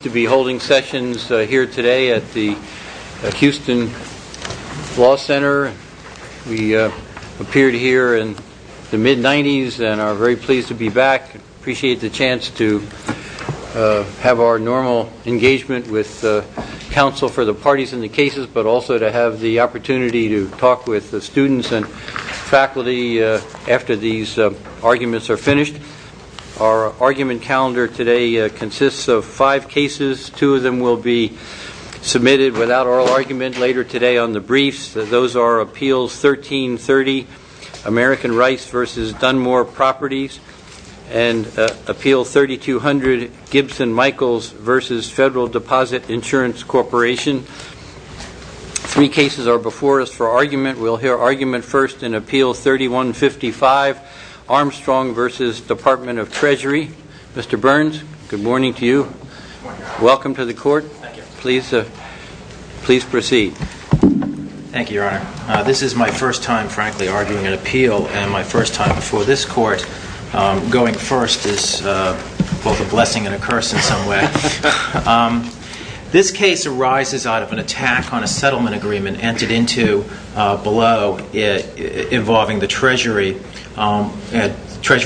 to be holding sessions here today at the Houston Law Center. We appeared here in the mid-nineties and are very pleased to be back. Appreciate the chance to have our normal engagement with counsel for the parties in the cases but also to have the opportunity to talk with the students and faculty after these arguments are finished. Our argument calendar today consists of five cases. Two of them will be submitted without oral argument later today on the briefs. Those are Appeals 1330, American Rice v. Dunmore Properties and Appeal 3200, Gibson-Michaels v. Federal Deposit Insurance Corporation. Three cases are before us for argument. We'll hear argument first in Appeal 3155, Armstrong v. Department of Treasury. Mr. Burns, good morning to you. Good morning, Your Honor. Welcome to the court. Thank you. Please proceed. Thank you, Your Honor. This is my first time, frankly, arguing an appeal and my first time before this court. Going first is both a blessing and a curse in some way. This case arises out of an attack on a settlement agreement entered into below involving the Treasury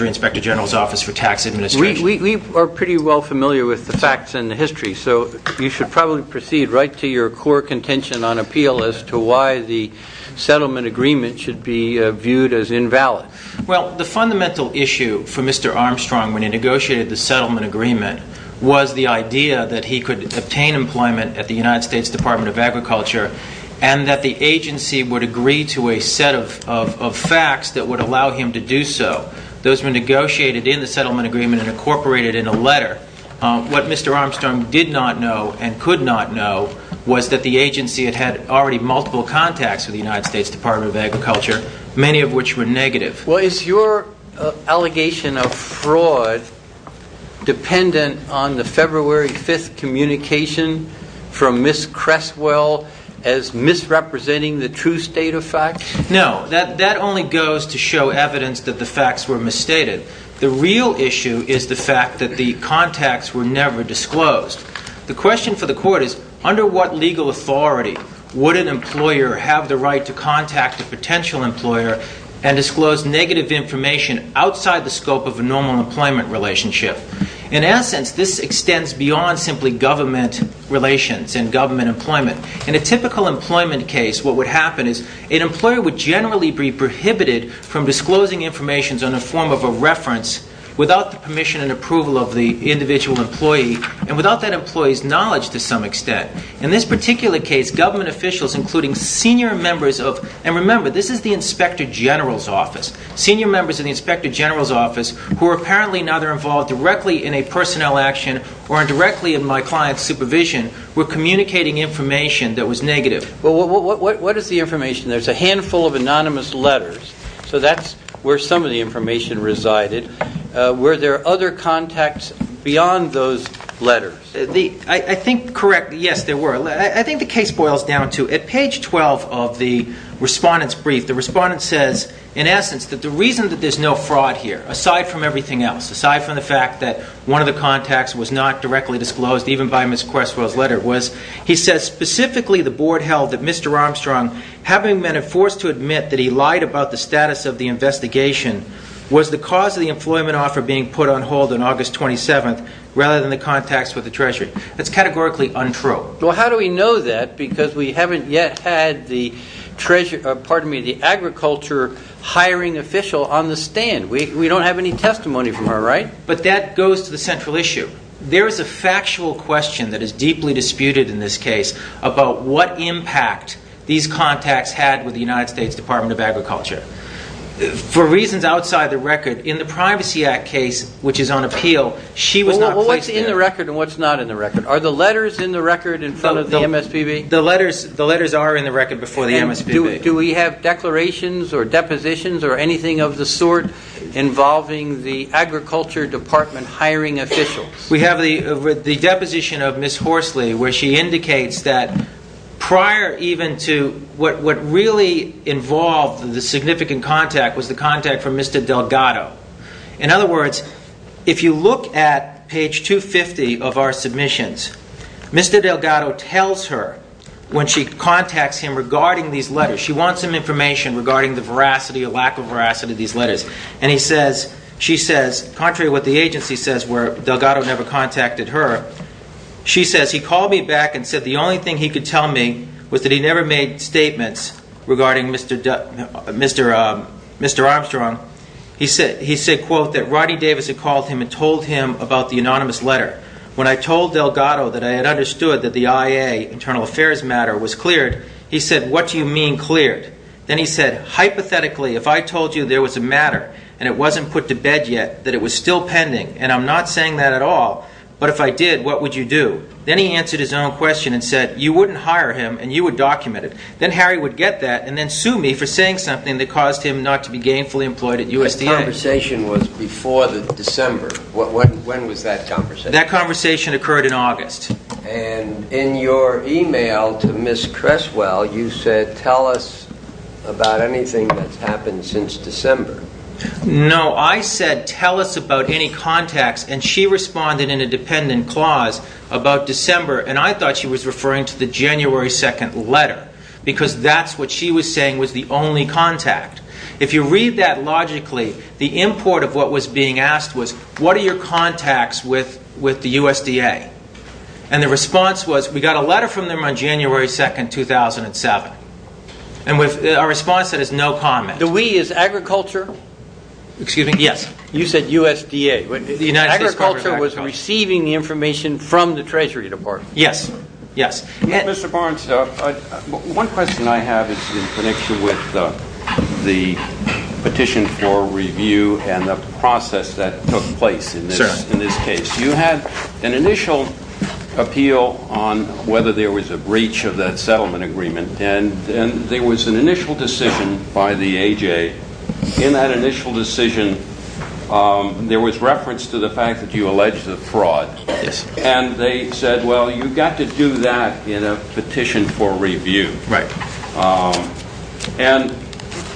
Inspector General's Office for Tax Administration. We are pretty well familiar with the facts and the history, so you should probably proceed right to your core contention on appeal as to why the settlement agreement should be viewed as invalid. Well, the fundamental issue for Mr. Armstrong when he negotiated the settlement agreement was the idea that he could obtain employment at the United States Department of Agriculture and that the agency would agree to a set of facts that would allow him to do so. Those were negotiated in the settlement agreement and incorporated in a letter. What Mr. Armstrong did not know and could not know was that the agency had had already multiple contacts with the United States Department of Agriculture, many of which were negative. Well, is your allegation of fraud dependent on the February 5th communication from Ms. Cresswell as misrepresenting the true state of the facts? No, that only goes to show evidence that the facts were misstated. The real issue is the fact that the contacts were never disclosed. The question for the court is, under what legal authority would an employer have the right to contact a potential employer and disclose negative information outside the scope of a normal employment relationship? In essence, this extends beyond simply government relations and government employment. In a case like this, an employer would generally be prohibited from disclosing information in the form of a reference without the permission and approval of the individual employee and without that employee's knowledge to some extent. In this particular case, government officials including senior members of, and remember, this is the Inspector General's office, senior members of the Inspector General's office who are apparently neither involved directly in a personnel action or directly in my client's supervision were communicating information that was negative. Well, what is the information? There's a handful of anonymous letters, so that's where some of the information resided. Were there other contacts beyond those letters? I think, correct, yes, there were. I think the case boils down to, at page 12 of the respondent's brief, the respondent says, in essence, that the reason that there's no fraud here, aside from everything else, aside from the fact that one of the contacts was not directly disclosed, even by Ms. Questwell's letter, was, he says, specifically the board held that Mr. Armstrong, having been forced to admit that he lied about the status of the investigation, was the cause of the employment offer being put on hold on August 27th rather than the contacts with the Treasury. That's categorically untrue. Well, how do we know that? Because we haven't yet had the Treasury, pardon me, the agriculture hiring official on the stand. We don't have any testimony from her, right? But that goes to the central issue. There is a factual question that is deeply disputed in this case about what impact these contacts had with the United States Department of Agriculture. For reasons outside the record, in the Privacy Act case, which is on appeal, she was not placed there. Well, what's in the record and what's not in the record? Are the letters in the record in front of the MSPB? The letters are in the record before the MSPB. And do we have declarations or depositions or anything of the sort involving the agriculture department hiring officials? We have the deposition of Ms. Horsley where she indicates that prior even to what really involved the significant contact was the contact from Mr. Delgado. In other words, if you look at page 250 of our submissions, Mr. Delgado tells her when she contacts him regarding these letters, she wants some information regarding the veracity or lack of veracity of these letters. And he says, she says, contrary to what the agency says where Delgado never contacted her, she says, he called me back and said the only thing he could tell me was that he never made statements regarding Mr. Armstrong. He said, quote, that Rodney Davis had called him and told him about the anonymous letter. When I told Delgado that I had understood that the IA internal affairs matter was cleared, he said, what do you mean cleared? Then he said, hypothetically, if I told you there was a matter and it wasn't put to bed yet, that it was still pending, and I'm not saying that at all, but if I did, what would you do? Then he answered his own question and said, you wouldn't hire him and you would document it. Then Harry would get that and then sue me for saying something that caused him not to be gainfully employed at USDA. The conversation was before the December. When was that conversation? That conversation occurred in August. And in your email to Miss Cresswell, you said, tell us about anything that's happened since December. No, I said, tell us about any contacts, and she responded in a dependent clause about December, and I thought she was referring to the January 2nd letter, because that's what she was saying was the only contact. If you read that logically, the import of what was being asked was, what are your contacts with the USDA? And the response was, we got a letter from them on January 2nd, 2007, and a response that has no comment. The we is agriculture? Excuse me? Yes. You said USDA. The United States Department of Agriculture. Agriculture was receiving the information from the Treasury Department. Yes, yes. Mr. Barnes, one question I have is in connection with the petition for review and the process that took place in this case. You had an initial appeal on whether there was a breach of that settlement agreement, and there was an initial decision by the A.J. In that initial decision, there was reference to the fact that you alleged a fraud. Yes. And they said, well, you got to do that in a petition for review. Right. And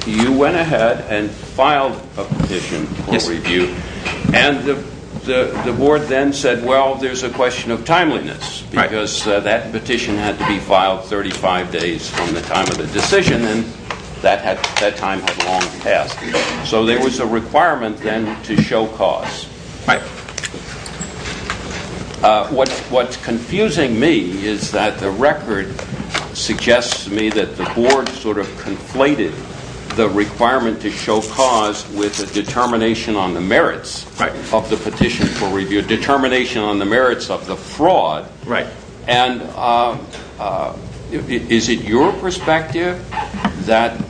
you went ahead and filed a petition for review. Yes. And the board then said, well, there's a question of timeliness, because that petition had to be filed 35 days from the time of the decision, and that time had long passed. So there was a requirement then to show cause. Right. What's confusing me is that the record of the petition record suggests to me that the board sort of conflated the requirement to show cause with a determination on the merits of the petition for review, determination on the merits of the fraud. Right. And is it your perspective that,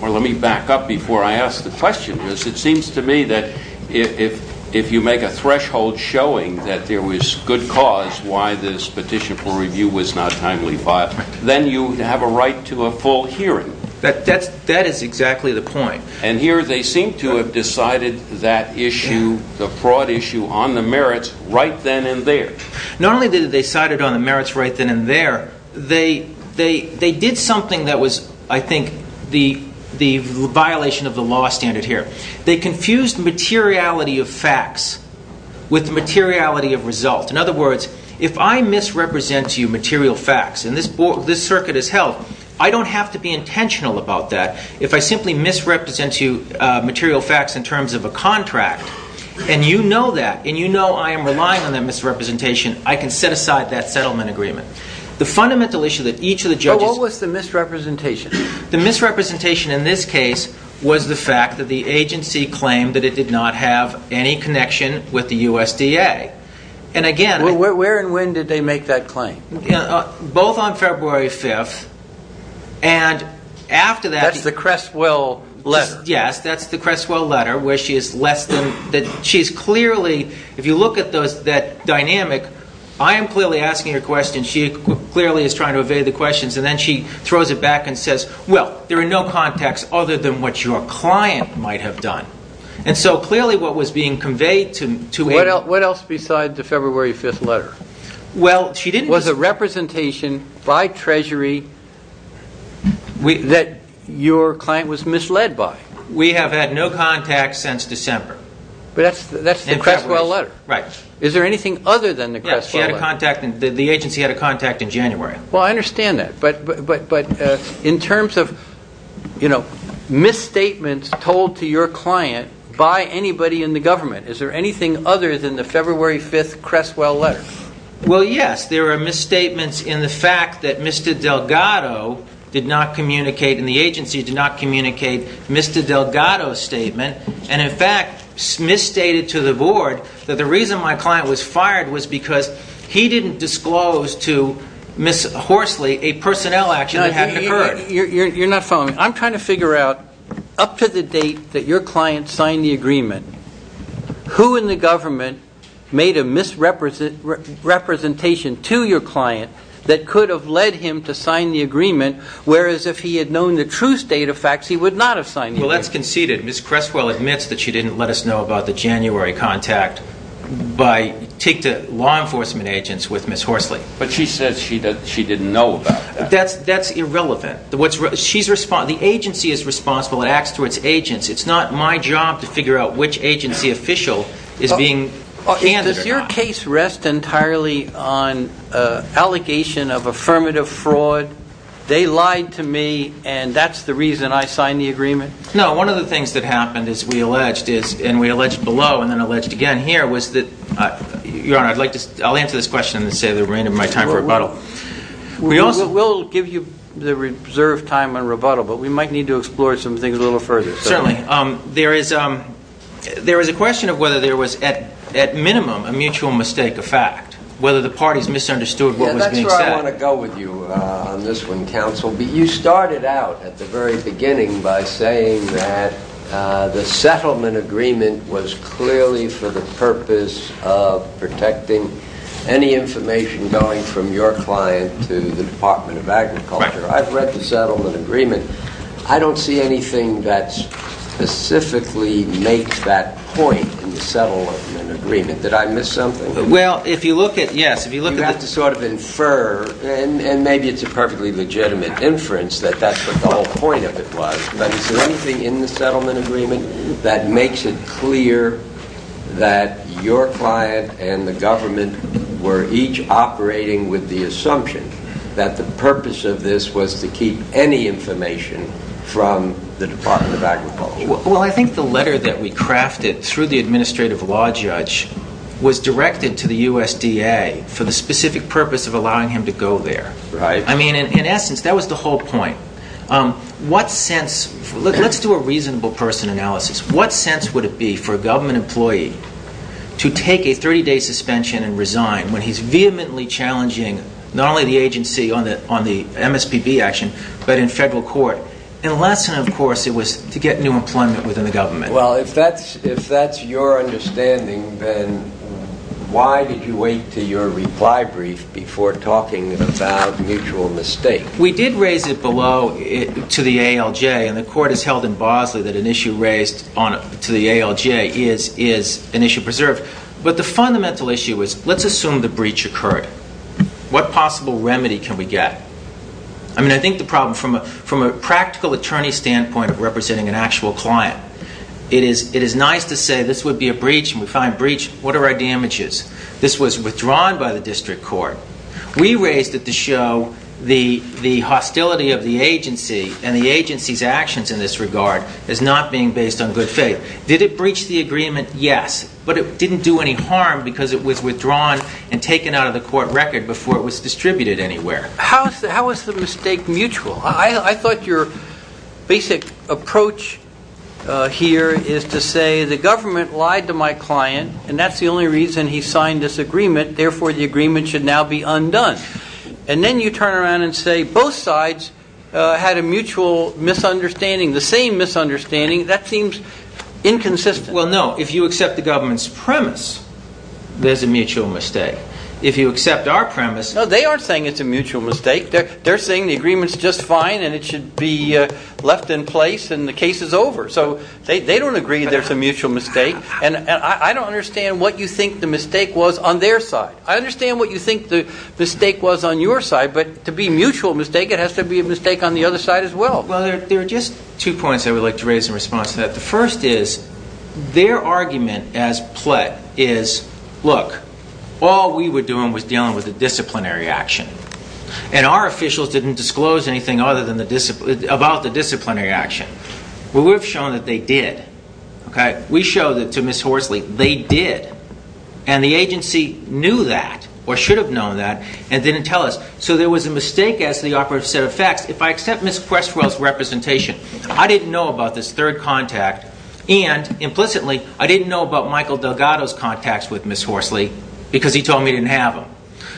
or let me back up before I ask the question, because it seems to me that if you make a threshold showing that there was good cause why this petition for review was not timely filed, then you have a right to a full hearing. That is exactly the point. And here they seem to have decided that issue, the fraud issue, on the merits right then and there. Not only did they decide it on the merits right then and there, they did something that was, I think, the violation of the law standard here. They confused materiality of facts with the materiality of result. In other words, if I misrepresent to you material facts, and this circuit is held, I don't have to be intentional about that. If I simply misrepresent to you material facts in terms of a contract, and you know that, and you know I am relying on that misrepresentation, I can set aside that settlement agreement. The fundamental issue that each of the judges What was the misrepresentation? The misrepresentation in this case was the fact that the agency claimed that it did not have any connection with the USDA. And again Where and when did they make that claim? Both on February 5th, and after that That's the Cresswell letter. Yes, that's the Cresswell letter, where she is less than, she is clearly, if you look at that dynamic, I am clearly asking her questions, and she clearly is trying to evade the questions, and then she throws it back and says, well, there are no contacts other than what your client might have done. And so clearly what was being conveyed to What else besides the February 5th letter? Well she didn't Was a representation by Treasury that your client was misled by. We have had no contact since December. But that's the Cresswell letter. Right. Is there anything other than the Cresswell letter? Yes, the agency had a contact in January. Well I understand that, but in terms of misstatements told to your client by anybody in the government, is there anything other than the February 5th Cresswell letter? Well yes, there are misstatements in the fact that Mr. Delgado did not communicate, and the agency did not communicate Mr. Delgado's that the reason my client was fired was because he didn't disclose to Ms. Horsley a personnel action that had occurred. You are not following. I am trying to figure out up to the date that your client signed the agreement, who in the government made a misrepresentation to your client that could have led him to sign the agreement, whereas if he had known the true state of facts, he would not have signed the agreement. Well that's conceded. Ms. Cresswell admits that she didn't let us know about the January 5th contact by, take to law enforcement agents with Ms. Horsley. But she says she didn't know about that. That's irrelevant. The agency is responsible and acts towards agents. It's not my job to figure out which agency official is being candid or not. Does your case rest entirely on allegation of affirmative fraud? They lied to me and that's the reason I signed the agreement? No, one of the things that happened as we alleged is, and we alleged below and then alleged again here, was that, Your Honor, I'd like to, I'll answer this question and say that we're running out of time for rebuttal. We'll give you the reserved time on rebuttal, but we might need to explore some things a little further. Certainly. There is a question of whether there was at minimum a mutual mistake of fact, whether the parties misunderstood what was being said. That's where I want to go with you on this one, counsel. You started out at the very beginning that the settlement agreement was clearly for the purpose of protecting any information going from your client to the Department of Agriculture. I've read the settlement agreement. I don't see anything that specifically makes that point in the settlement agreement. Did I miss something? Well, if you look at, yes, if you look at the- You have to sort of infer, and maybe it's a perfectly legitimate inference that that's what the whole point of it was, but is there anything in the settlement agreement that makes it clear that your client and the government were each operating with the assumption that the purpose of this was to keep any information from the Department of Agriculture? Well, I think the letter that we crafted through the administrative law judge was directed to the USDA for the specific purpose of allowing him to go there. I mean, in essence, that was the whole point. Let's do a reasonable person analysis. What sense would it be for a government employee to take a 30-day suspension and resign when he's vehemently challenging not only the agency on the MSPB action, but in federal court? And the lesson, of course, it was to get new employment within the government. Well, if that's your understanding, then why did you wait to your reply brief before talking about mutual mistake? We did raise it below to the ALJ, and the court has held in Bosley that an issue raised to the ALJ is an issue preserved. But the fundamental issue was, let's assume the breach occurred. What possible remedy can we get? I mean, I think the problem, from a practical attorney standpoint of representing an actual client, it is nice to say this would be a breach, and we find breach. What are our damages? This was withdrawn by the district court. We raised it to show the hostility of the agency and the agency's actions in this regard as not being based on good faith. Did it breach the agreement? Yes. But it didn't do any harm because it was withdrawn and taken out of the court record before it was distributed anywhere. How is the mistake mutual? I thought your basic approach here is to say the government lied to my client, and that's the only reason he signed this agreement. Therefore, the agreement should now be undone. And then you turn around and say both sides had a mutual misunderstanding, the same misunderstanding. That seems inconsistent. Well, no. If you accept the government's premise, there's a mutual mistake. If you accept our premise- No, they aren't saying it's a mutual mistake. They're saying the agreement's just fine and it should be left in place and the case is over. So they don't agree there's a mutual mistake. And I don't understand what you think the mistake was on their side. I understand what you think the mistake was on your side, but to be mutual mistake, it has to be a mistake on the other side as well. Well, there are just two points I would like to raise in response to that. The first is their argument as pled is, look, all we were doing was dealing with the disciplinary action. And our officials didn't disclose anything other than about the disciplinary action. Well, we've shown that they did. Okay? We showed it to Ms. Horsley. They did. And the agency knew that or should have known that and didn't tell us. So there was a mistake as to the operative set of facts. If I accept Ms. Questwell's representation, I didn't know about this third contact. And implicitly, I didn't know about Michael Delgado's contacts with Ms. Horsley because he told me he didn't have them.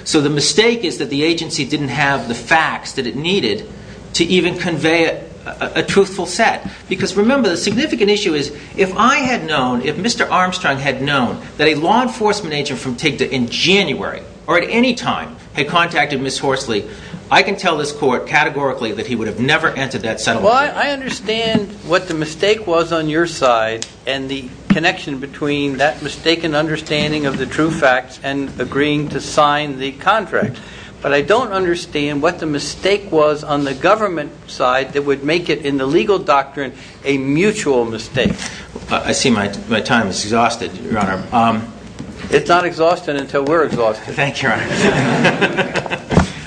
So the mistake is that the agency didn't have the facts that it needed to even convey a truthful set. Because remember, the significant issue is if I had known, if Mr. Armstrong had known that a law enforcement agent from TIGTA in January or at any time had contacted Ms. Horsley, I can tell this court categorically that he would have never entered that settlement. Well, I understand what the mistake was on your side and the connection between that mistaken understanding of the true facts and agreeing to sign the contract. But I don't understand what the mistake was on the government side that would make it in the legal doctrine a mutual mistake. I see my time is exhausted, Your Honor. It's not exhausting until we're exhausted. Thank you, Your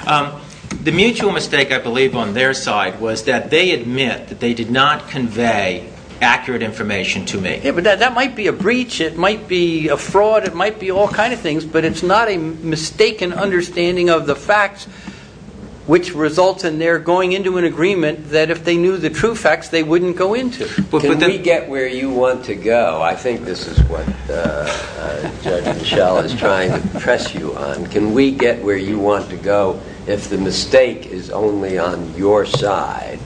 Honor. The mutual mistake, I believe, on their side was that they admit that they did not convey accurate information to me. Yeah, but that might be a breach. It might be a fraud. It might be all kinds of things. But it's not a mistaken understanding of the facts which results in their going into an agreement that if they knew the true facts, they wouldn't go into. Can we get where you want to go? I think this is what Judge Mischel is trying to press you on. Can we get where you want to go if the mistake is only on your side?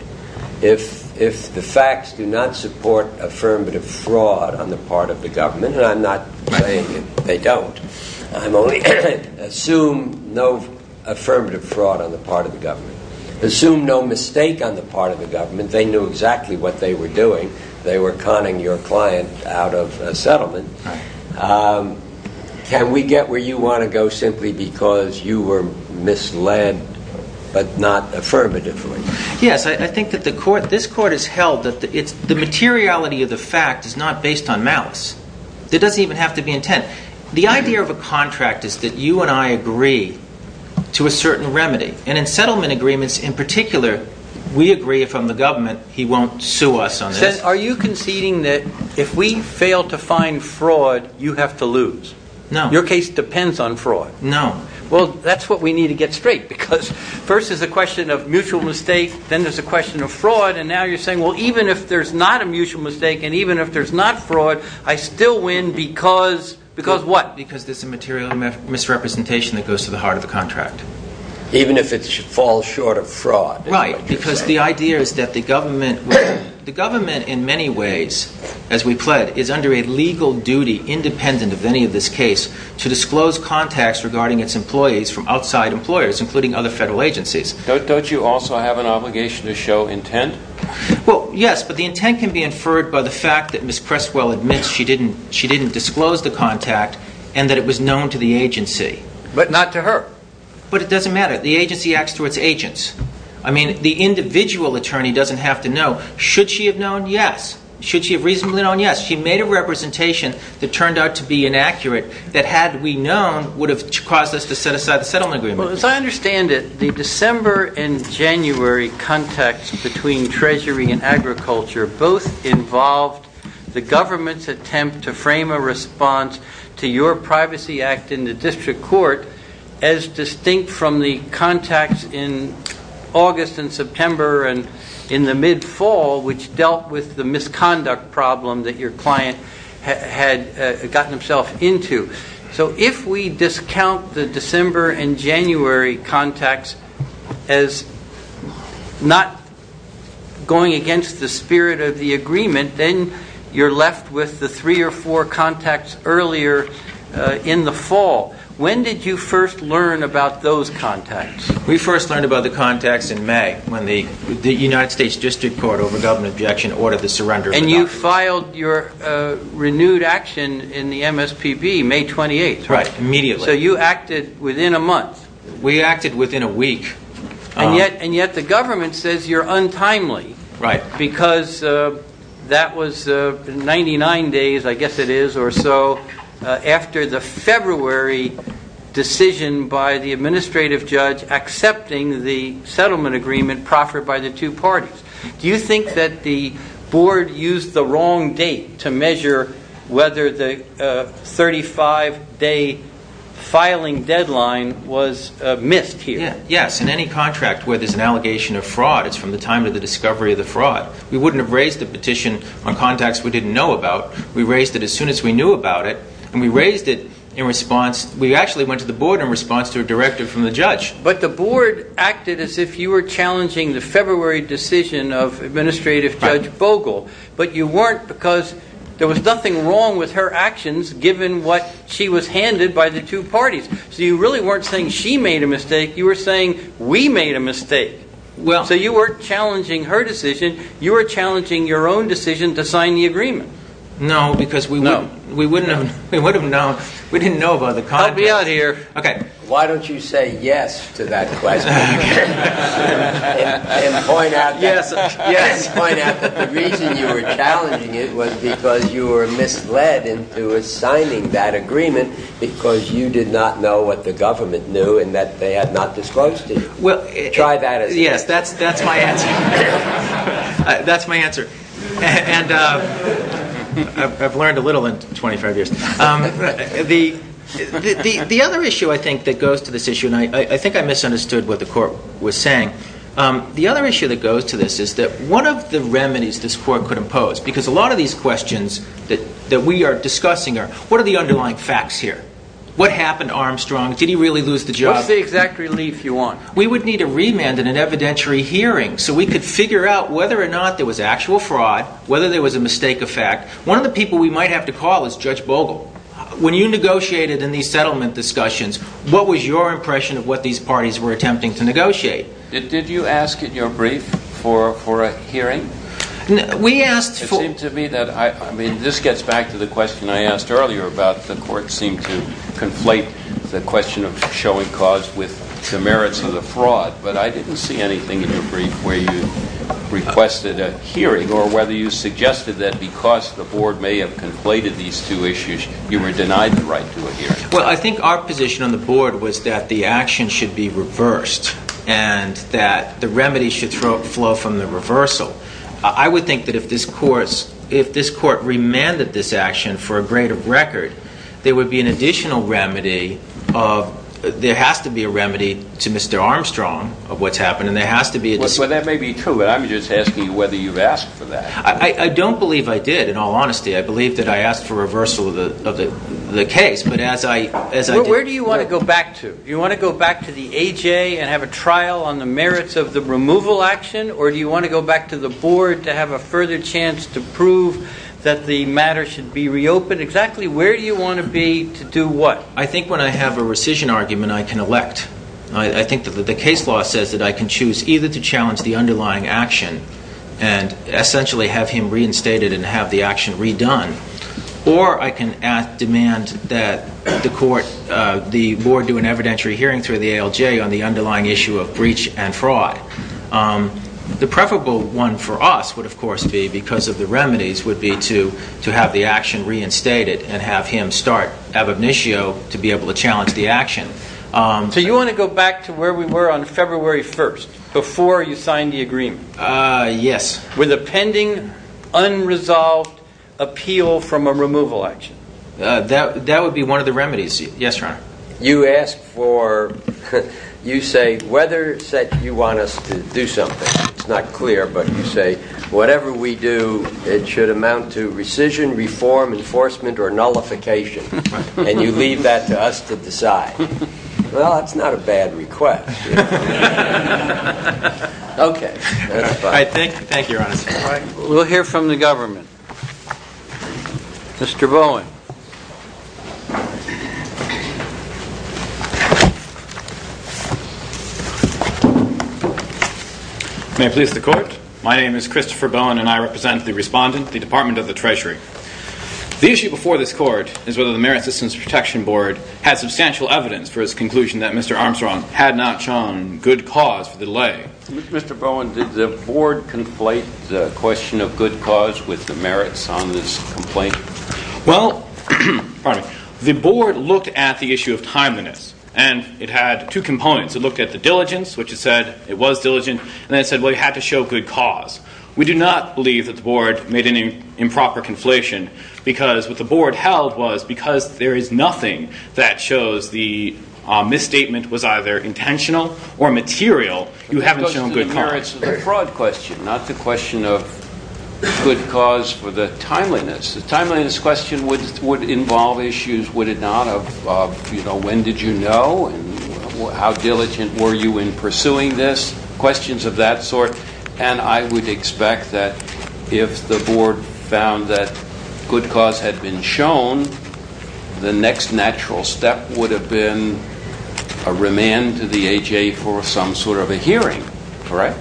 If the facts do not support affirmative fraud on the part of the government, and I'm not saying they don't, I'm only saying assume no affirmative fraud on the part of the government. Assume no mistake on the part of the government. They knew exactly what they were doing. They were conning your client out of a settlement. Can we get where you want to go simply because you were misled but not affirmatively? Yes, I think that this Court has held that the materiality of the fact is not based on malice. It doesn't even have to be intent. The idea of a contract is that you and I agree to a certain remedy, and in settlement agreements in particular, we agree if I'm the government, he won't sue us on this. Are you conceding that if we fail to find fraud, you have to lose? No. Your case depends on fraud. No. Well, that's what we need to get straight because first there's a question of mutual mistake, then there's a question of fraud, and now you're saying, well, even if there's not a mutual mistake and even if there's not a fraud, it goes what? Because there's a material misrepresentation that goes to the heart of the contract. Even if it falls short of fraud? Right, because the idea is that the government in many ways, as we pled, is under a legal duty independent of any of this case to disclose contacts regarding its employees from outside employers including other federal agencies. Don't you also have an obligation to show intent? Well, yes, but the intent can be inferred by the fact that Ms. Crestwell admits she didn't disclose the contact and that it was known to the agency. But not to her. But it doesn't matter. The agency acts to its agents. I mean, the individual attorney doesn't have to know. Should she have known? Yes. Should she have reasonably known? Yes. She made a representation that turned out to be inaccurate that had we known would have caused us to set aside the settlement agreement. Well, as I understand it, the December and January contacts involved the government's attempt to frame a response to your Privacy Act in the District Court as distinct from the contacts in August and September and in the mid-fall which dealt with the misconduct problem that your client had gotten himself into. So if we discount the December and January contacts as not going against the spirit of the agreement, then you're left with the three or four contacts earlier in the fall. When did you first learn about those contacts? We first learned about the contacts in May when the United States District Court over government objection ordered the surrender. And you filed your renewed action in the MSPB May 28th, right? Right. Immediately. So you acted within a month? We acted within a week. And yet the government says you're untimely because that was 99 days, I guess it is, or so after the February decision by the administrative judge accepting the settlement agreement proffered by the two parties. Do you think that the board used the wrong date to measure whether the 35-day filing deadline was missed here? Yes. In any contract where there's an allegation of fraud, it's from the time of the discovery of the fraud. We wouldn't have raised the petition on contacts we didn't know about. We raised it as soon as we knew about it. And we raised it in response, we actually went to the board in response to a directive from the judge. But the board acted as if you were challenging the February decision of administrative judge Bogle, but you weren't because there was nothing wrong with her actions given what she was handed by the two parties. So you really weren't saying she made a mistake, you were saying we made a mistake. So you weren't challenging her decision, you were challenging your own decision to sign the agreement. No, because we wouldn't have known. We didn't know about the contract. Help me out here. Why don't you say yes to that question? And point out that the reason you were challenging it was because you were misled into signing that agreement because you did not know what the government knew and that they had not disclosed to you. Try that as well. Yes, that's my answer. That's my answer. And I've learned a little in 25 years. The other issue I think that goes to this issue, and I think I misunderstood what the court was saying. The other issue that goes to this is that one of the remedies this court could impose, because a lot of these questions that we are discussing are what are the underlying facts here? What happened to Armstrong? Did he really lose the job? What's the exact relief you want? We would need a remand and an evidentiary hearing so we could figure out whether or not there was actual fraud, whether there was a mistake of fact. One of the people we might have to call is Judge Bogle. When you negotiated in these settlement discussions, what was your impression of what these parties were attempting to negotiate? Did you ask in your brief for a hearing? It seemed to me that, I mean, this gets back to the question I asked earlier about the court seemed to conflate the question of showing cause with the merits of the fraud. But I didn't see anything in your brief where you requested a hearing or whether you suggested that because the board may have conflated these two issues, you were denied the right to a hearing. Well, I think our position on the board was that the action should be reversed and that the remedy should flow from the reversal. I would think that if this court remanded this action for a greater record, there would be an additional remedy of, there has to be a remedy to Mr. Armstrong of what's happened and there has to be a decision. Well, that may be true, but I'm just asking whether you've asked for that. I don't believe I did, in all honesty. I believe that I asked for reversal of the case. But as I did... Where do you want to go back to? Do you want to go back to the A.J. and have a trial on the merits of the removal action? Or do you want to go back to the board to have a further chance to prove that the matter should be reopened? Exactly where do you want to be to do what? I think when I have a rescission argument, I can elect. I think that the case law says that I can choose either to challenge the underlying action and essentially have him the court, the board do an evidentiary hearing through the ALJ on the underlying issue of breach and fraud. The preferable one for us would of course be, because of the remedies, would be to have the action reinstated and have him start ab initio to be able to challenge the action. So you want to go back to where we were on February 1st, before you signed the agreement? Yes. With a pending unresolved appeal from a removal action? That would be one of the remedies. Yes, Your Honor. You ask for, you say, whether you want us to do something. It's not clear, but you say, whatever we do, it should amount to rescission, reform, enforcement, or nullification. And you leave that to us to decide. Well, that's not a bad request. Okay. That's fine. Thank you, Your Honor. We'll hear from the government. Mr. Bowen. May it please the Court? My name is Christopher Bowen and I represent the Respondent, the Department of the Treasury. The issue before this Court is whether the Merit Assistance Protection Board has substantial evidence for its conclusion that Mr. Armstrong had not shown good cause for the delay. Mr. Bowen, did the Board conflate the question of good cause with the merits on this complaint? Well, the Board looked at the issue of timeliness and it had two components. It looked at the diligence, which it said it was diligent, and then it said, well, you had to show good cause. We do not believe that the Board made any improper conflation because what the Board held was because there is nothing that shows the misstatement was either intentional or material, you haven't shown good cause. It's a fraud question, not the question of good cause for the timeliness. The timeliness question would involve issues, would it not, of when did you know and how diligent were you in pursuing this, questions of that sort. And I would expect that if the Board found that good cause had been shown, the next natural step would have been a remand to the AJA for some sort of a hearing, correct?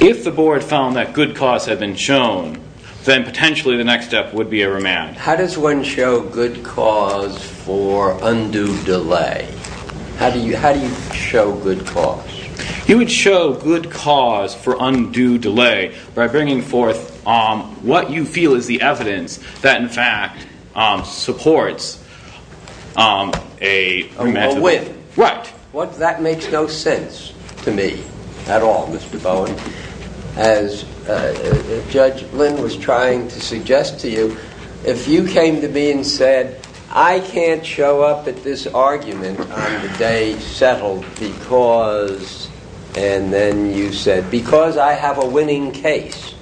If the Board found that good cause had been shown, then potentially the next step would be a remand. How does one show good cause for undue delay? How do you show good cause? You would show good cause for undue delay by bringing forth what you feel is the evidence that in fact supports a remand to the AJA. A whip. Right. That makes no sense to me at all, Mr. Bowen. As Judge Lynn was trying to suggest to you, if you came to me and said, I can't show up at this argument on the day settled because I have a winning case,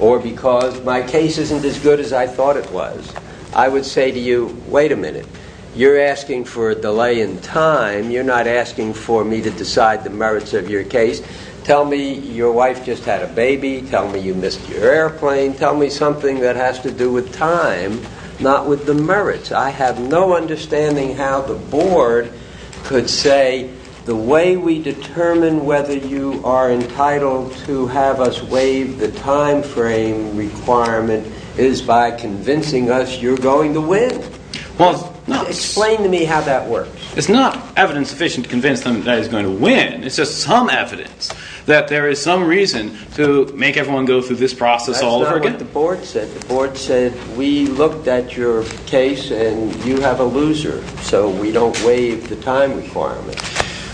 or because my case isn't as good as I thought it was, I would say to you, wait a minute. You're asking for a delay in time. You're not asking for me to decide the merits of your case. Tell me your wife just had a baby. Tell me you missed your airplane. Tell me something that has to do with time, not with the merits. I have no understanding how the Board could say, the way we determine whether you are entitled to have us waive the timeframe requirement is by convincing us you're going to wait until the end. Explain to me how that works. It's not evidence sufficient to convince them that he's going to win. It's just some evidence that there is some reason to make everyone go through this process all over again. That's not what the Board said. The Board said, we looked at your case and you have a loser, so we don't waive the time requirement.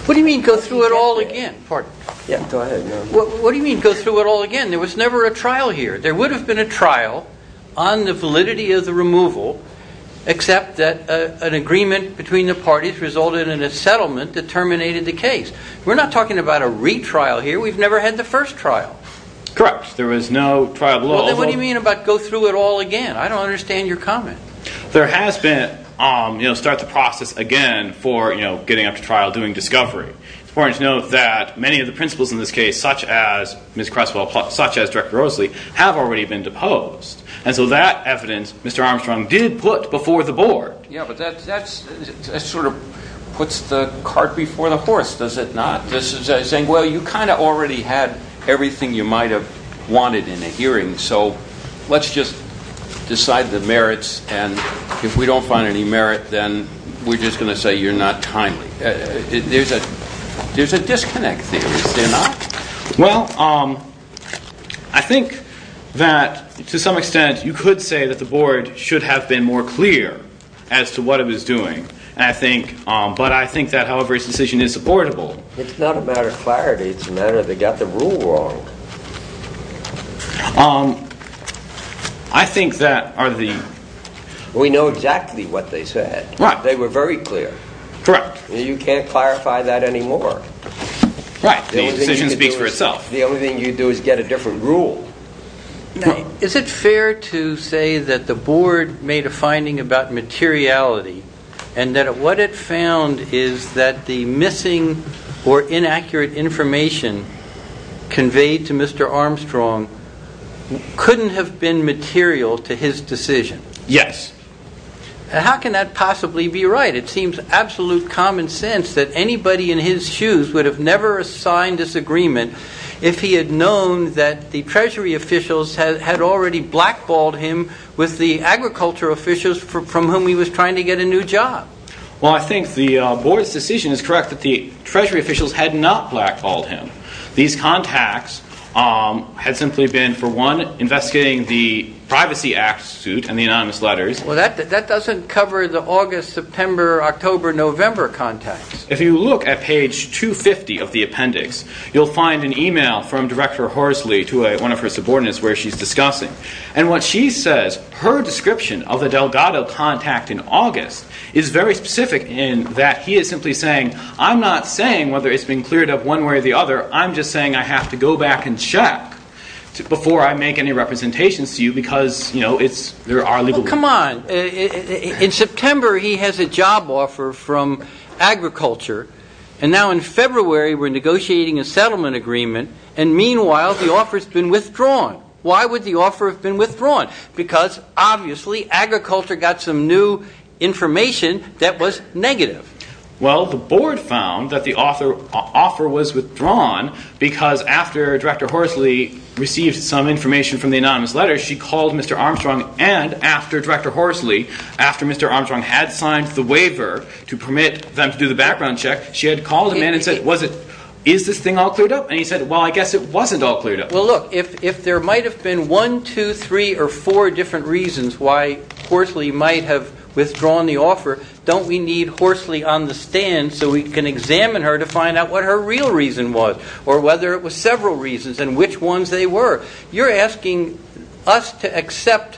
What do you mean go through it all again? There was never a trial here. There would be, except that an agreement between the parties resulted in a settlement that terminated the case. We're not talking about a retrial here. We've never had the first trial. Correct. There was no trial at all. Then what do you mean about go through it all again? I don't understand your comment. There has been, start the process again for getting up to trial, doing discovery. It's important to note that many of the principles in this case, such as Ms. Creswell, such as Mr. Eckersley, have already been deposed. And so that evidence, Mr. Armstrong did put before the Board. Yeah, but that sort of puts the cart before the horse, does it not? This is saying, well, you kind of already had everything you might have wanted in a hearing, so let's just decide the merits. And if we don't find any merit, then we're just going to say you're not timely. There's a disconnect there, is there not? Well, I think that to some extent you could say that the Board should have been more clear as to what it was doing. But I think that however this decision is supportable. It's not a matter of clarity. It's a matter of they got the rule wrong. I think that are the... We know exactly what they said. They were very clear. Correct. You can't clarify that anymore. Right. The decision speaks for itself. The only thing you do is get a different rule. Is it fair to say that the Board made a finding about materiality and that what it found is that the missing or inaccurate information conveyed to Mr. Armstrong couldn't have been material to his decision? Yes. How can that possibly be right? It seems absolute common sense that anybody in his shoes would have never signed this agreement if he had known that the Treasury officials had already blackballed him with the agriculture officials from whom he was trying to get a new job. Well, I think the Board's decision is correct that the Treasury officials had not blackballed him. These contacts had simply been, for one, investigating the Privacy Act suit and the Well, that doesn't cover the August, September, October, November contacts. If you look at page 250 of the appendix, you'll find an email from Director Horsley to one of her subordinates where she's discussing. And what she says, her description of the Delgado contact in August is very specific in that he is simply saying, I'm not saying whether it's been cleared up one way or the other. I'm just saying I have to go back and check before I make any representations to you because, you know, it's... Come on. In September, he has a job offer from agriculture. And now in February, we're negotiating a settlement agreement. And meanwhile, the offer's been withdrawn. Why would the offer have been withdrawn? Because obviously, agriculture got some new information that was negative. Well, the Board found that the offer was withdrawn because after Director Horsley received some information from Mr. Armstrong and after Director Horsley, after Mr. Armstrong had signed the waiver to permit them to do the background check, she had called him in and said, is this thing all cleared up? And he said, well, I guess it wasn't all cleared up. Well, look, if there might have been one, two, three, or four different reasons why Horsley might have withdrawn the offer, don't we need Horsley on the stand so we can examine her to find out what her real reason was or whether it was several reasons and which ones they were? You're asking us to accept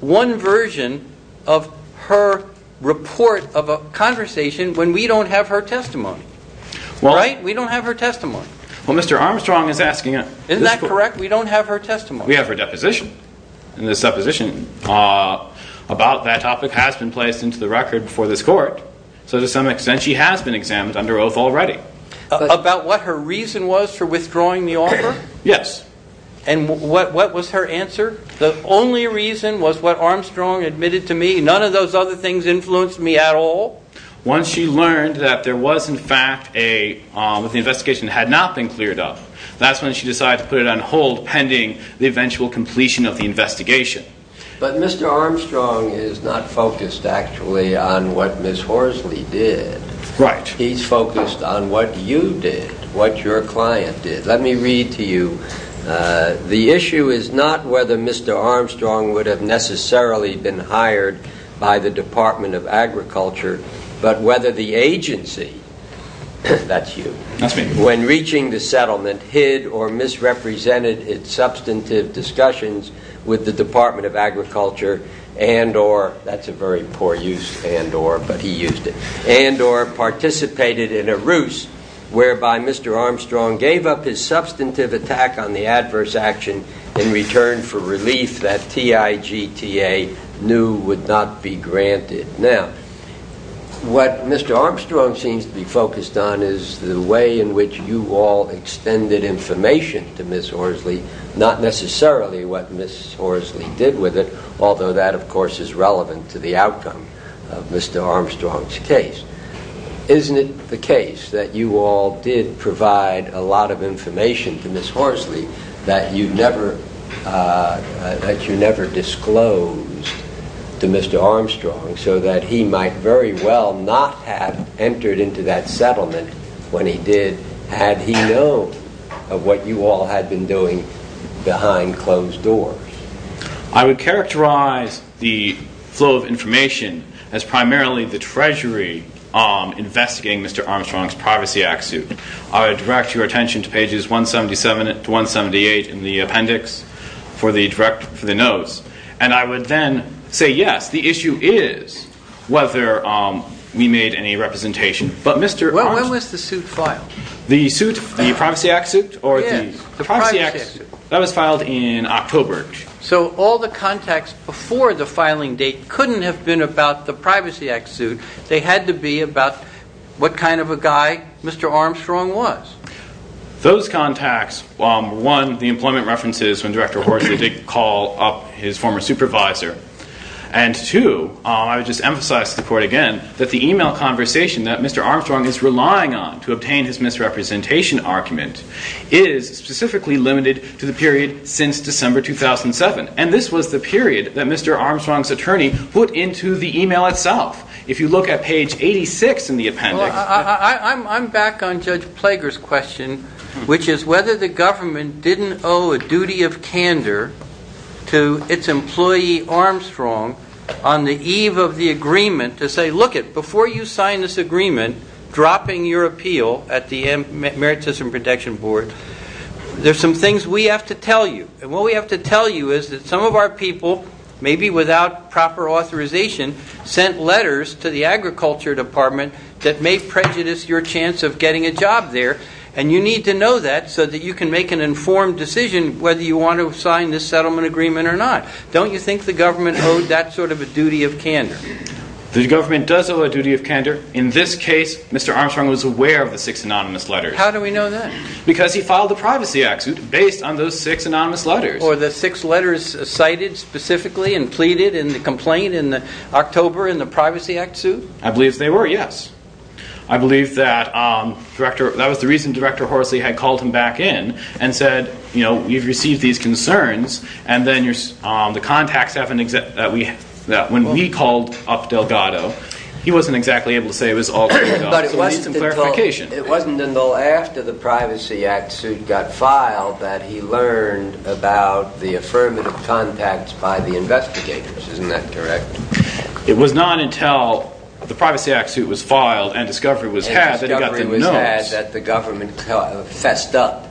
one version of her report of a conversation when we don't have her testimony. Right? We don't have her testimony. Well, Mr. Armstrong is asking... Isn't that correct? We don't have her testimony. We have her deposition. And the supposition about that topic has been placed into the record before this court. So to some extent, she has been examined under oath already. About what her reason was for withdrawing the offer? Yes. And what was her answer? The only reason was what Armstrong admitted to me. None of those other things influenced me at all. Once she learned that there was, in fact, an investigation that had not been cleared up, that's when she decided to put it on hold pending the eventual completion of the investigation. But Mr. Armstrong is not focused, actually, on what Ms. Horsley did. Right. He's focused on what you did, what your client did. Let me read to you. The issue is not whether Mr. Armstrong would have necessarily been hired by the Department of Agriculture, but whether the agency, that's you, when reaching the settlement, hid or misrepresented its substantive discussions with the Department of Agriculture and or, that's a very poor use, and or, but he used it, and or participated in a ruse whereby Mr. Armstrong gave up his substantive attack on the adverse action in return for relief that TIGTA knew would not be granted. Now, what Mr. Armstrong seems to be focused on is the way in which you all extended information to Ms. Horsley, not necessarily what Ms. Horsley did with it, although that, of course, is the outcome of Mr. Armstrong's case. Isn't it the case that you all did provide a lot of information to Ms. Horsley that you never, that you never disclosed to Mr. Armstrong so that he might very well not have entered into that settlement when he did, had he known of what you all had been doing behind closed doors? I would characterize the flow of information as primarily the Treasury investigating Mr. Armstrong's Privacy Act suit. I would direct your attention to pages 177 to 178 in the appendix for the direct, for the notes, and I would then say, yes, the issue is whether we made any representation, but Mr. Armstrong. When was the suit filed? The suit, the Privacy Act suit? Yes. The Privacy Act suit. That was filed in October. So all the contacts before the filing date couldn't have been about the Privacy Act suit. They had to be about what kind of a guy Mr. Armstrong was. Those contacts, one, the employment references when Director Horsley did call up his former supervisor, and two, I would just emphasize to the Court again that the email conversation that Mr. Armstrong is relying on to obtain his misrepresentation argument is specifically limited to the period since December 2007, and this was the period that Mr. Armstrong's attorney put into the email itself. If you look at page 86 in the appendix. I'm back on Judge Plager's question, which is whether the government didn't owe a duty of candor to its employee Armstrong on the eve of the agreement to say, look it, before you sign this agreement dropping your appeal at the Merit System Protection Board, there's some things we have to tell you, and what we have to tell you is that some of our people, maybe without proper authorization, sent letters to the Agriculture Department that may prejudice your chance of getting a job there, and you need to know that so that you can make an informed decision whether you want to sign this settlement agreement or not. Don't you think the government owed that sort of a duty of candor? The government does owe a duty of candor. In this case, Mr. Armstrong was aware of the six anonymous letters. How do we know that? Because he filed the Privacy Act suit based on those six anonymous letters. Were the six letters cited specifically and pleaded in the complaint in October in the Privacy Act suit? I believe they were, yes. I believe that was the reason Director Horsley had called him back in and said, you know, you've received these concerns, and then the contacts have an exemption that when we called up Delgado, he wasn't exactly able to say it was all cleared up, so we need some clarification. It wasn't until after the Privacy Act suit got filed that he learned about the affirmative contacts by the investigators, isn't that correct? It was not until the Privacy Act suit was filed and discovery was had that he got the notes. And discovery was had that the government fessed up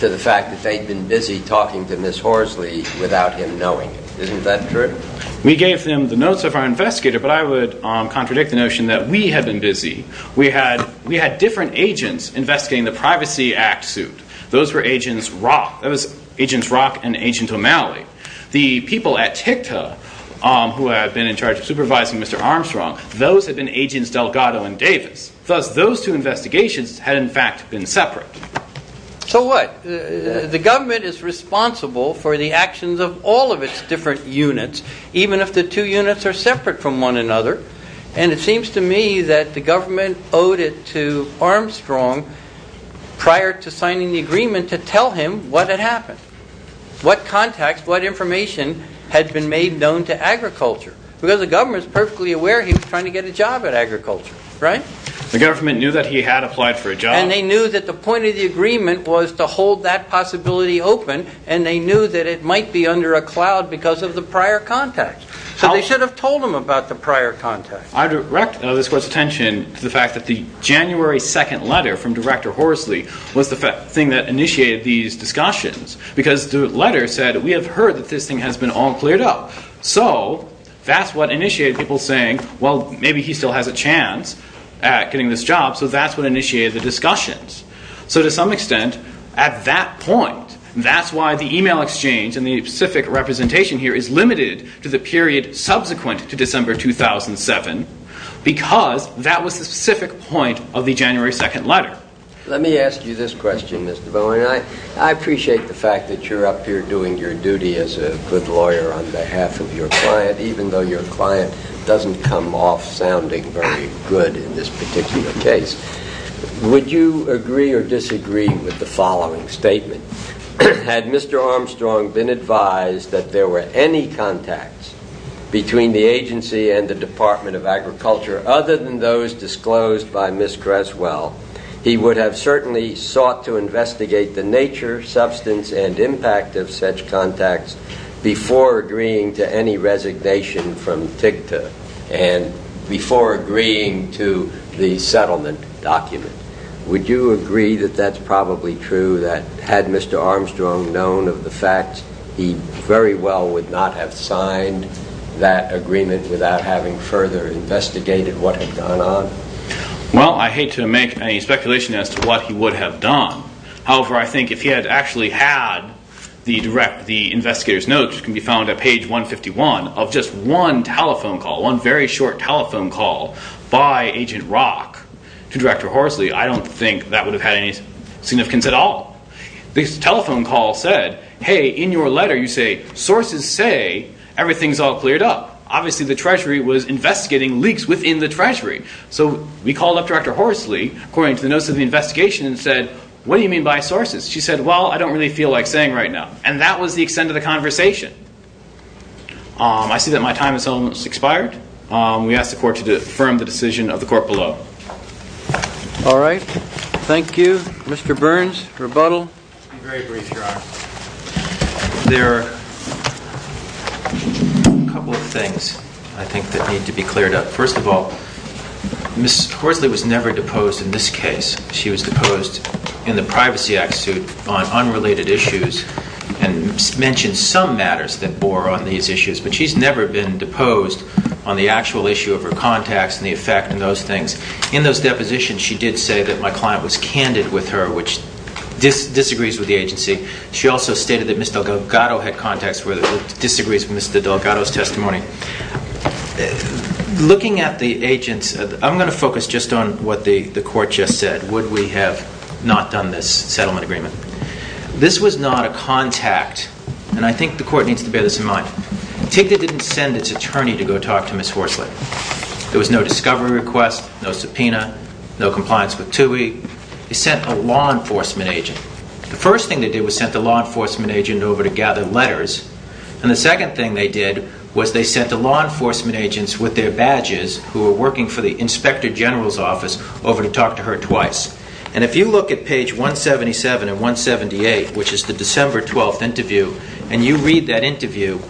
to the fact that they'd been busy talking to Ms. Horsley without him knowing it, isn't that true? We gave them the notes of our investigator, but I would contradict the notion that we had been busy. We had different agents investigating the Privacy Act suit. Those were Agents Rock and Agent O'Malley. The people at TICTA who had been in charge of supervising Mr. Armstrong, those had been Agents Delgado and Davis, thus those two investigations had in fact been separate. So what? The government is responsible for the actions of all of its different units, even if the two units are separate from one another. And it seems to me that the government owed it to Armstrong prior to signing the agreement to tell him what had happened. What contacts, what information had been made known to agriculture. Because the government is perfectly aware he was trying to get a job at agriculture, right? The government knew that he had applied for a job. And they knew that the point of the agreement was to hold that possibility open and they knew that it might be under a cloud because of the prior contacts. So they should have told him about the prior contacts. I direct this Court's attention to the fact that the January 2nd letter from Director Horsley was the thing that initiated these discussions. Because the letter said, we have heard that this thing has been all cleared up. So that's what initiated people saying, well, maybe he still has a chance at getting this job. So that's what initiated the discussions. So to some extent, at that point, that's why the email exchange and the specific representation here is limited to the period subsequent to December 2007. Because that was the specific point of the January 2nd letter. Let me ask you this question, Mr. Bowen. I appreciate the fact that you're up here doing your duty as a good lawyer on behalf of your client, even though your client doesn't come off sounding very good in this particular case. Would you agree or disagree with the following statement? Had Mr. Armstrong been advised that there were any contacts between the agency and the Department of Agriculture other than those disclosed by Ms. Creswell, he would have certainly sought to investigate the nature, substance, and impact of such contacts before agreeing to any resignation from TICTA and before agreeing to the settlement document. Would you agree that that's probably true? That had Mr. Armstrong known of the fact, he very well would not have signed that agreement without having further investigated what had gone on? Well, I hate to make any speculation as to what he would have done. However, I think if he had actually had the investigator's notes, which can be found at page 151, of just one telephone call, one very short telephone call by Agent Rock to Director Horsley, I don't think that would have had any significance at all. This telephone call said, hey, in your letter you say, sources say everything's all cleared up. Obviously the Treasury was investigating leaks within the Treasury. So we called up Director Horsley, according to the notes of the investigation, and said, what do you mean by sources? She said, well, I don't really feel like saying right now. And that was the extent of the conversation. I see that my time has almost expired. We ask the Court to affirm the decision of the Court below. All right. Thank you. Mr. Burns, rebuttal. Very brief, Your Honor. There are a couple of things, I think, that need to be cleared up. First of all, Ms. Horsley was never deposed in this case. She was deposed in the Privacy Act suit on unrelated issues and mentioned some matters that bore on these issues. But she's never been deposed on the actual issue of her contacts and the effect and those things. In those depositions, she did say that my client was candid with her, which disagrees with the agency. She also stated that Ms. Delgado had contacts where it disagrees with Ms. Delgado's testimony. Looking at the agents, I'm going to focus just on what the Court just said. Would we have not done this settlement agreement? This was not a contact, and I think the Court needs to bear this in mind. TIGDA didn't send its attorney to go talk to Ms. Horsley. There was no discovery request, no subpoena, no compliance with TUI. They sent a law enforcement agent. The first thing they did was sent the law enforcement agent over to gather letters, and the second thing they did was they sent the law enforcement agents with their badges, who were working for the Inspector General's office, over to talk to her twice. If you look at page 177 and 178, which is the December 12th interview, and you read that interview,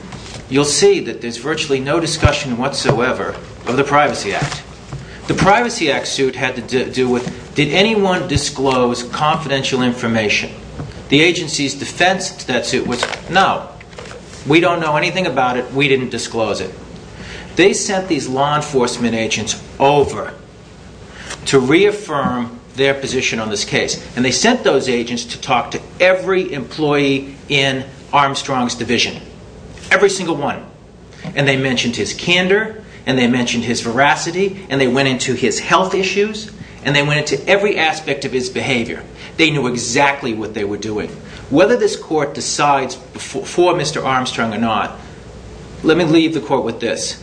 you'll see that there's virtually no discussion whatsoever of the Privacy Act. The Privacy Act suit had to do with, did anyone disclose confidential information? The agency's defense to that suit was, no. We don't know anything about it. We didn't disclose it. They sent these law enforcement agents over to reaffirm their position on this case, and they sent those agents to talk to every employee in Armstrong's division. Every single one. And they mentioned his candor, and they mentioned his veracity, and they went into his health issues, and they went into every aspect of his behavior. They knew exactly what they were doing. Whether this court decides for Mr. Armstrong or not, let me leave the court with this.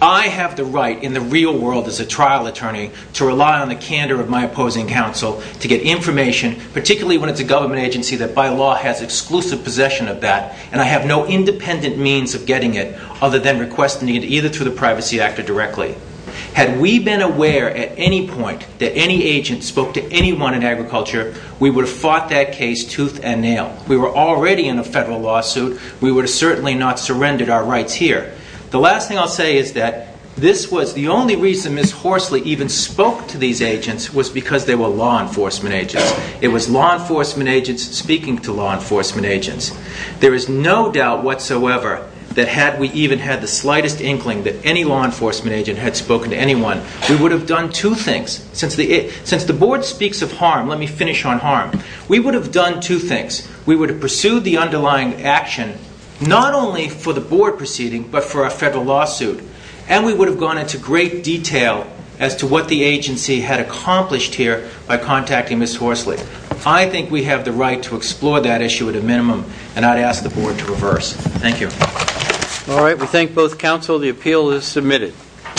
I have the right, in the real world, as a trial attorney, to rely on the candor of my opposing counsel to get information, particularly when it's a government agency that by law has exclusive possession of that, and I have no independent means of getting it, other than requesting it either through the Privacy Act or directly. Had we been aware at any point that any agent spoke to anyone in agriculture, we would have got that case tooth and nail. We were already in a federal lawsuit. We would have certainly not surrendered our rights here. The last thing I'll say is that this was the only reason Ms. Horsley even spoke to these agents was because they were law enforcement agents. It was law enforcement agents speaking to law enforcement agents. There is no doubt whatsoever that had we even had the slightest inkling that any law enforcement agent had spoken to anyone, we would have done two things. Since the Board speaks of harm, let me finish on harm. We would have done two things. We would have pursued the underlying action, not only for the Board proceeding, but for a federal lawsuit, and we would have gone into great detail as to what the agency had accomplished here by contacting Ms. Horsley. I think we have the right to explore that issue at a minimum, and I'd ask the Board to reverse. Thank you. All right. We thank both counsel. The appeal is submitted.